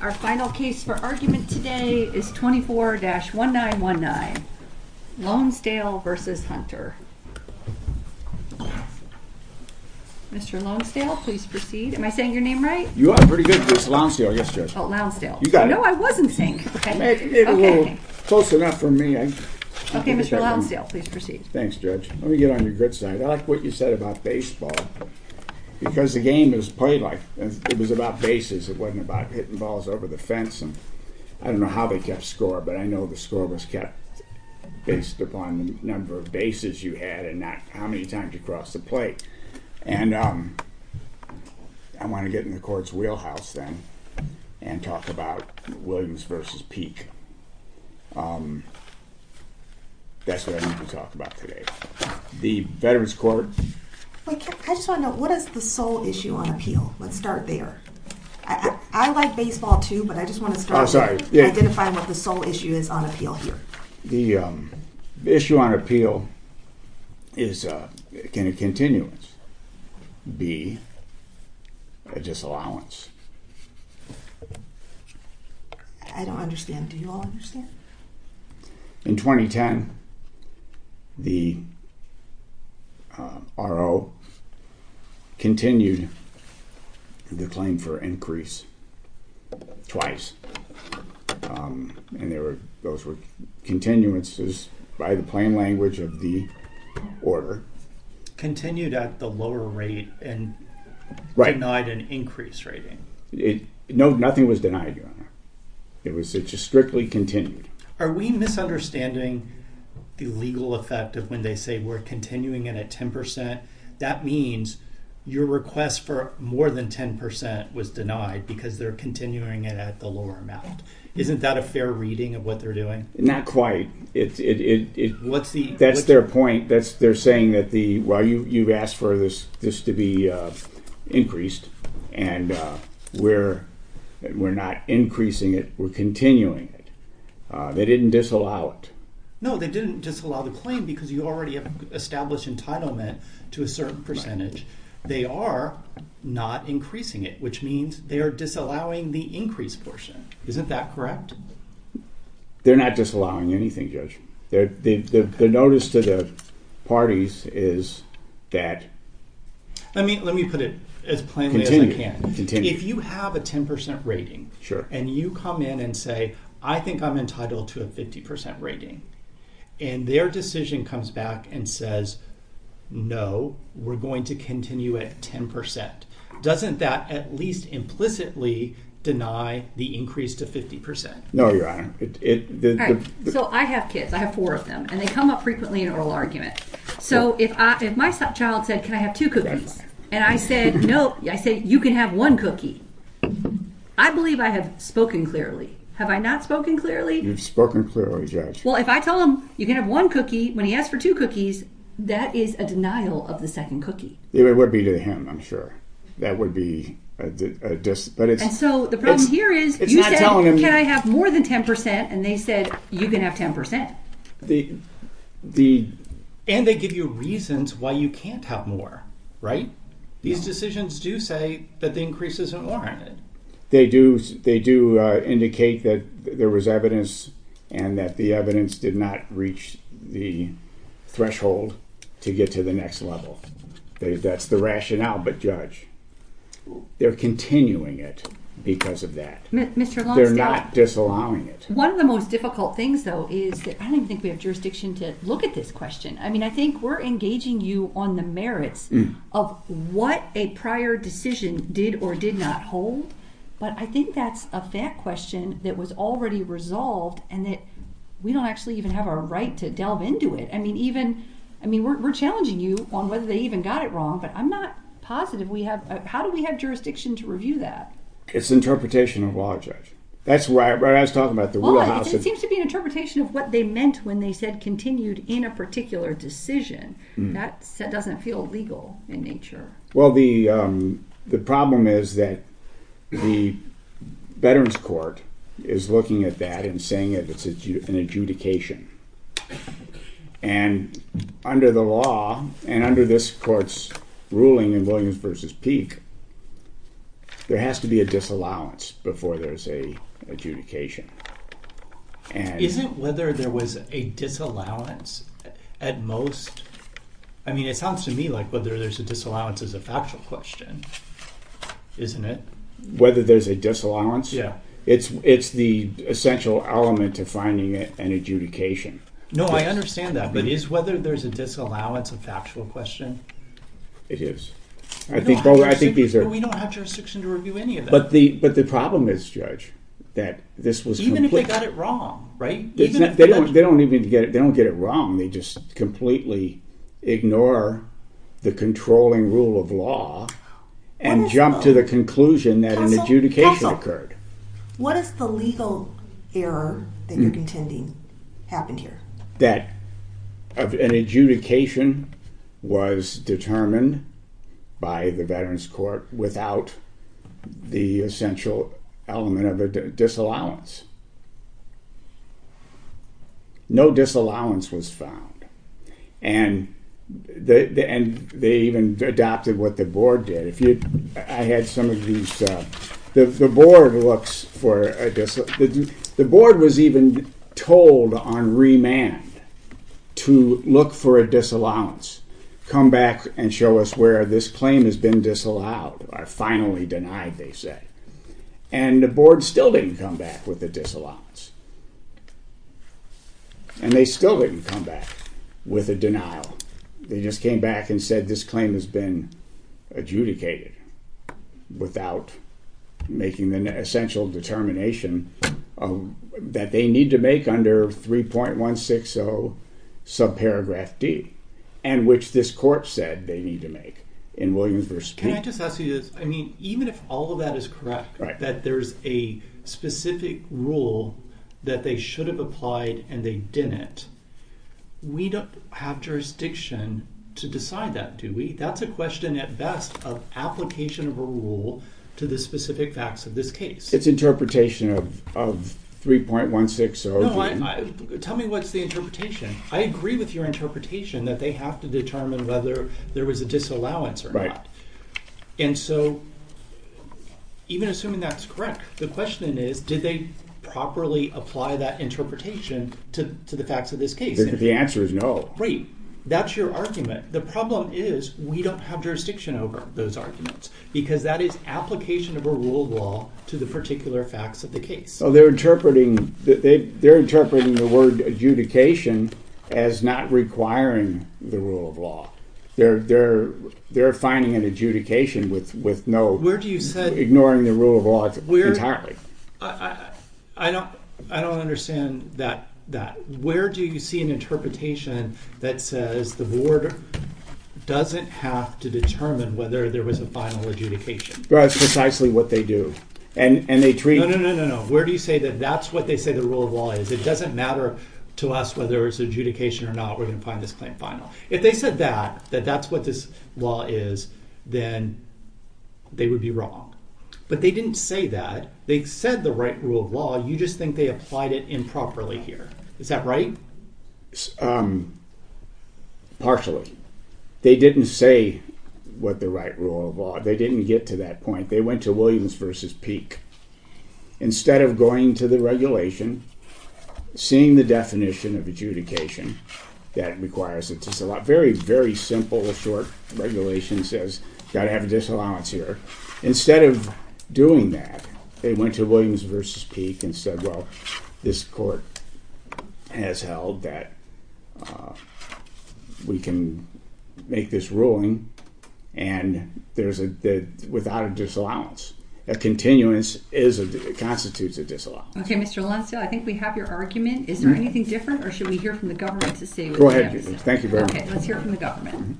Our final case for argument today is 24-1919, Lownsdale v. Hunter. Mr. Lownsdale, please proceed. Am I saying your name right? You are pretty good. It's Lownsdale, yes, Judge. Oh, Lownsdale. No, I wasn't saying your name. It was close enough for me. Okay, Mr. Lownsdale, please proceed. Thanks, Judge. Let me get on your good side. I like what you said about baseball because the game is played like it was about bases. It wasn't about hitting balls over the fence. I don't know how they kept score, but I know the score was kept based upon the number of bases you had and not how many times you crossed the plate. And I want to get in the court's wheelhouse then and talk about Williams v. Peek. That's what I need to talk about today. The Veterans Court... I just want to know, what is the sole issue on appeal? Let's start there. I like baseball too, but I just want to start by identifying what the sole issue is on appeal here. The issue on appeal is, can a continuance be a disallowance? I don't understand. Do you all understand? In 2010, the RO continued the claim for increase twice. And those were continuances by the plain language of the order. Continued at the lower rate and denied an increase rating. Nothing was denied. It just strictly continued. Are we misunderstanding the legal effect of when they say we're continuing it at 10%? That means your request for more than 10% was denied because they're continuing it at the lower amount. Isn't that a fair reading of what they're doing? Not quite. That's their point. You've asked for this to be increased, and we're not increasing it. We're continuing it. They didn't disallow it. No, they didn't disallow the claim because you already have established entitlement to a certain percentage. They are not increasing it, which means they are disallowing the increase portion. Isn't that correct? They're not disallowing anything, Judge. The notice to the parties is that... Let me put it as plainly as I can. If you have a 10% rating, and you come in and say, I think I'm entitled to a 50% rating, and their decision comes back and says, no, we're going to continue at 10%, doesn't that at least implicitly deny the increase to 50%? No, Your Honor. I have kids. I have four of them, and they come up frequently in oral argument. If my child said, can I have two cookies, and I said, no, you can have one cookie, I believe I have spoken clearly. Have I not spoken clearly? You've spoken clearly, Judge. If I tell him, you can have one cookie, when he asks for two cookies, that is a denial of the second cookie. It would be to him, I'm sure. And so the problem here is, you said, can I have more than 10%, and they said, you can have 10%. And they give you reasons why you can't have more, right? These decisions do say that the increase isn't warranted. They do indicate that there was evidence, and that the evidence did not reach the threshold to get to the next level. That's the rationale, but Judge, they're continuing it because of that. They're not disallowing it. One of the most difficult things, though, is that I don't even think we have jurisdiction to look at this question. I mean, I think we're engaging you on the merits of what a prior decision did or did not hold, but I think that's a fact question that was already resolved, and that we don't actually even have a right to delve into it. I mean, we're challenging you on whether they even got it wrong, but I'm not positive. How do we have jurisdiction to review that? It's interpretation of law, Judge. That's what I was talking about. It seems to be an interpretation of what they meant when they said continued in a particular decision. That doesn't feel legal in nature. Well, the problem is that the Veterans Court is looking at that and saying it's an adjudication, and under the law and under this Court's ruling in Williams v. Peek, there has to be a disallowance before there's an adjudication. Isn't whether there was a disallowance at most... I mean, it sounds to me like whether there's a disallowance is a factual question, isn't it? Whether there's a disallowance? Yeah. It's the essential element to finding an adjudication. No, I understand that, but is whether there's a disallowance a factual question? It is. We don't have jurisdiction to review any of that. But the problem is, Judge, that this was completely... Even if they got it wrong, right? They don't even get it wrong. They just completely ignore the controlling rule of law and jump to the conclusion that an adjudication occurred. What is the legal error that you're contending happened here? That an adjudication was determined by the Veterans Court without the essential element of a disallowance. No disallowance was found, and they even adopted what the Board did. I had some of these... The Board was even told on remand to look for a disallowance, come back and show us where this claim has been disallowed, or finally denied, they said. And the Board still didn't come back with a disallowance. And they still didn't come back with a denial. They just came back and said this claim has been adjudicated without making the essential determination that they need to make under 3.160 subparagraph D, and which this court said they need to make in Williams v. Payne. Can I just ask you this? I mean, even if all of that is correct, that there's a specific rule that they should have applied and they didn't, we don't have jurisdiction to decide that, do we? That's a question at best of application of a rule to the specific facts of this case. It's interpretation of 3.160... No, tell me what's the interpretation. I agree with your interpretation that they have to determine whether there was a disallowance or not. And so, even assuming that's correct, the question is, did they properly apply that interpretation to the facts of this case? The answer is no. Great. That's your argument. The problem is we don't have jurisdiction over those arguments, because that is application of a rule of law to the particular facts of the case. They're interpreting the word adjudication as not requiring the rule of law. They're finding an adjudication with no... Where do you say... Ignoring the rule of law entirely. I don't understand that. Where do you see an interpretation that says the board doesn't have to determine whether there was a final adjudication? That's precisely what they do. And they treat... No, no, no, no, no. Where do you say that that's what they say the rule of law is? It doesn't matter to us whether it's adjudication or not, we're going to find this claim final. If they said that, that that's what this law is, then they would be wrong. But they didn't say that. They said the right rule of law, you just think they applied it improperly here. Is that right? Partially. They didn't say what the right rule of law... They didn't get to that point. They went to Williams v. Peek. Instead of going to the regulation, seeing the definition of adjudication that requires it to... It's a very, very simple, short regulation that says, you've got to have a disallowance here. Instead of doing that, they went to Williams v. Peek and said, well, this court has held that we can make this ruling without a disallowance. A continuance constitutes a disallowance. Okay, Mr. Alonzo, I think we have your argument. Is there anything different, or should we hear from the government to see what they have to say? Go ahead. Thank you very much. Okay, let's hear from the government.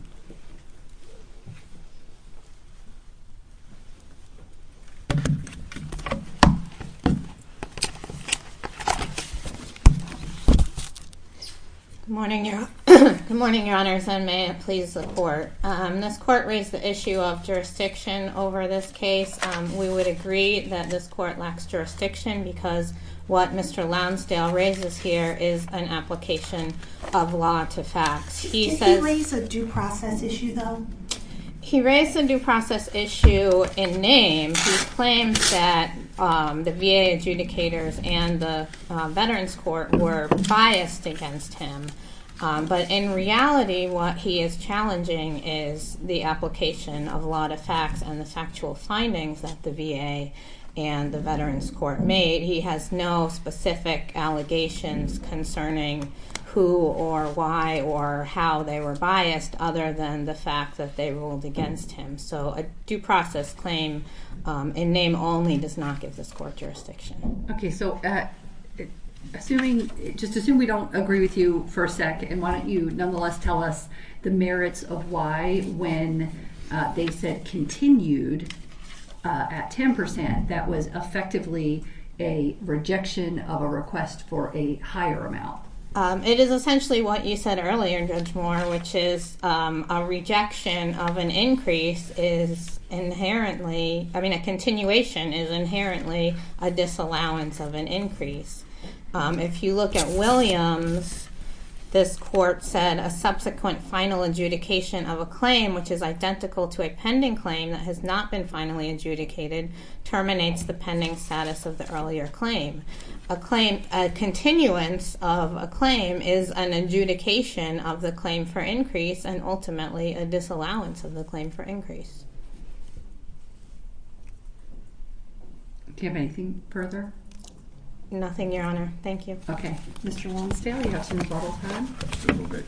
Good morning, Your Honors, and may it please the court. This court raised the issue of jurisdiction over this case. We would agree that this court lacks jurisdiction because what Mr. Lounsdale raises here is an application of law to fact. Did he raise a due process issue, though? He raised the due process issue in name. He claims that the VA adjudicators and the Veterans Court were biased against him. But in reality, what he is challenging is the application of law to facts and the factual findings that the VA and the Veterans Court made. He has no specific allegations concerning who or why or how they were biased, other than the fact that they ruled against him. So a due process claim in name only does not give this court jurisdiction. Okay, so just assume we don't agree with you for a sec, and why don't you nonetheless tell us the merits of why, when they said continued at 10%, that was effectively a rejection of a request for a higher amount. It is essentially what you said earlier, Judge Moore, which is a rejection of an increase is inherently, I mean a continuation is inherently a disallowance of an increase. If you look at Williams, this court said a subsequent final adjudication of a claim, which is identical to a pending claim that has not been finally adjudicated, terminates the pending status of the earlier claim. A continuance of a claim is an adjudication of the claim for increase and ultimately a disallowance of the claim for increase. Do you have anything further? Nothing, Your Honor. Thank you. Okay. Mr. Longstale, you have some rebuttals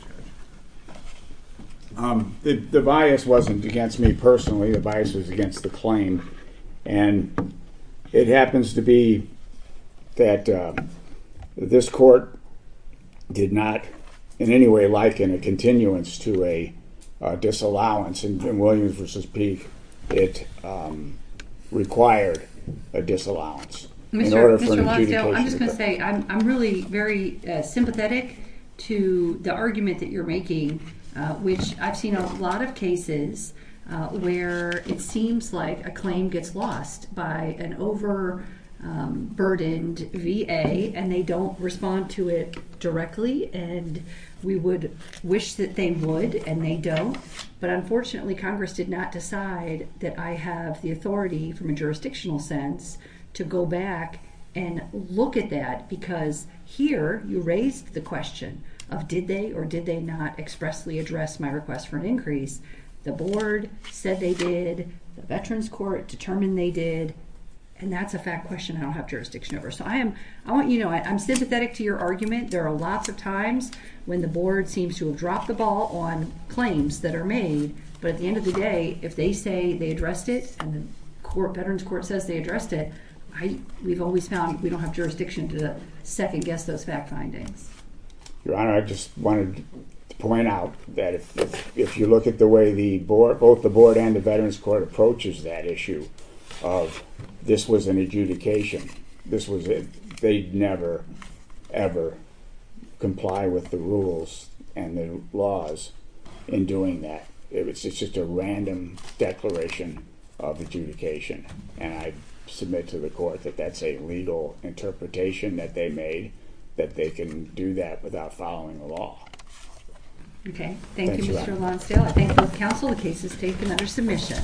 coming? The bias wasn't against me personally. The bias was against the claim. And it happens to be that this court did not in any way liken a continuance to a disallowance. In Williams v. Peek, it required a disallowance in order for an adjudication to occur. Mr. Longstale, I'm just going to say I'm really very sympathetic to the argument that you're making, which I've seen a lot of cases where it seems like a claim gets lost by an overburdened VA and they don't respond to it directly. And we would wish that they would and they don't. But unfortunately, Congress did not decide that I have the authority from a jurisdictional sense to go back and look at that because here you raised the question of did they or did they not expressly address my request for an increase. The Board said they did. The Veterans Court determined they did. And that's a fact question I don't have jurisdiction over. So I am, I want you to know, I'm sympathetic to your argument. There are lots of times when the Board seems to have dropped the ball on claims that are made. But at the end of the day, if they say they addressed it and the Veterans Court says they addressed it, we've always found we don't have jurisdiction to second-guess those fact findings. Your Honor, I just wanted to point out that if you look at the way both the Board and the Veterans Court approaches that issue of this was an adjudication, this was a, they'd never, ever comply with the rules and the laws in doing that. It's just a random declaration of adjudication. And I submit to the Court that that's a legal interpretation that they made that they can do that without following the law. Okay. Thank you, Mr. Lonsdale. I thank both counsel. The case is taken under submission.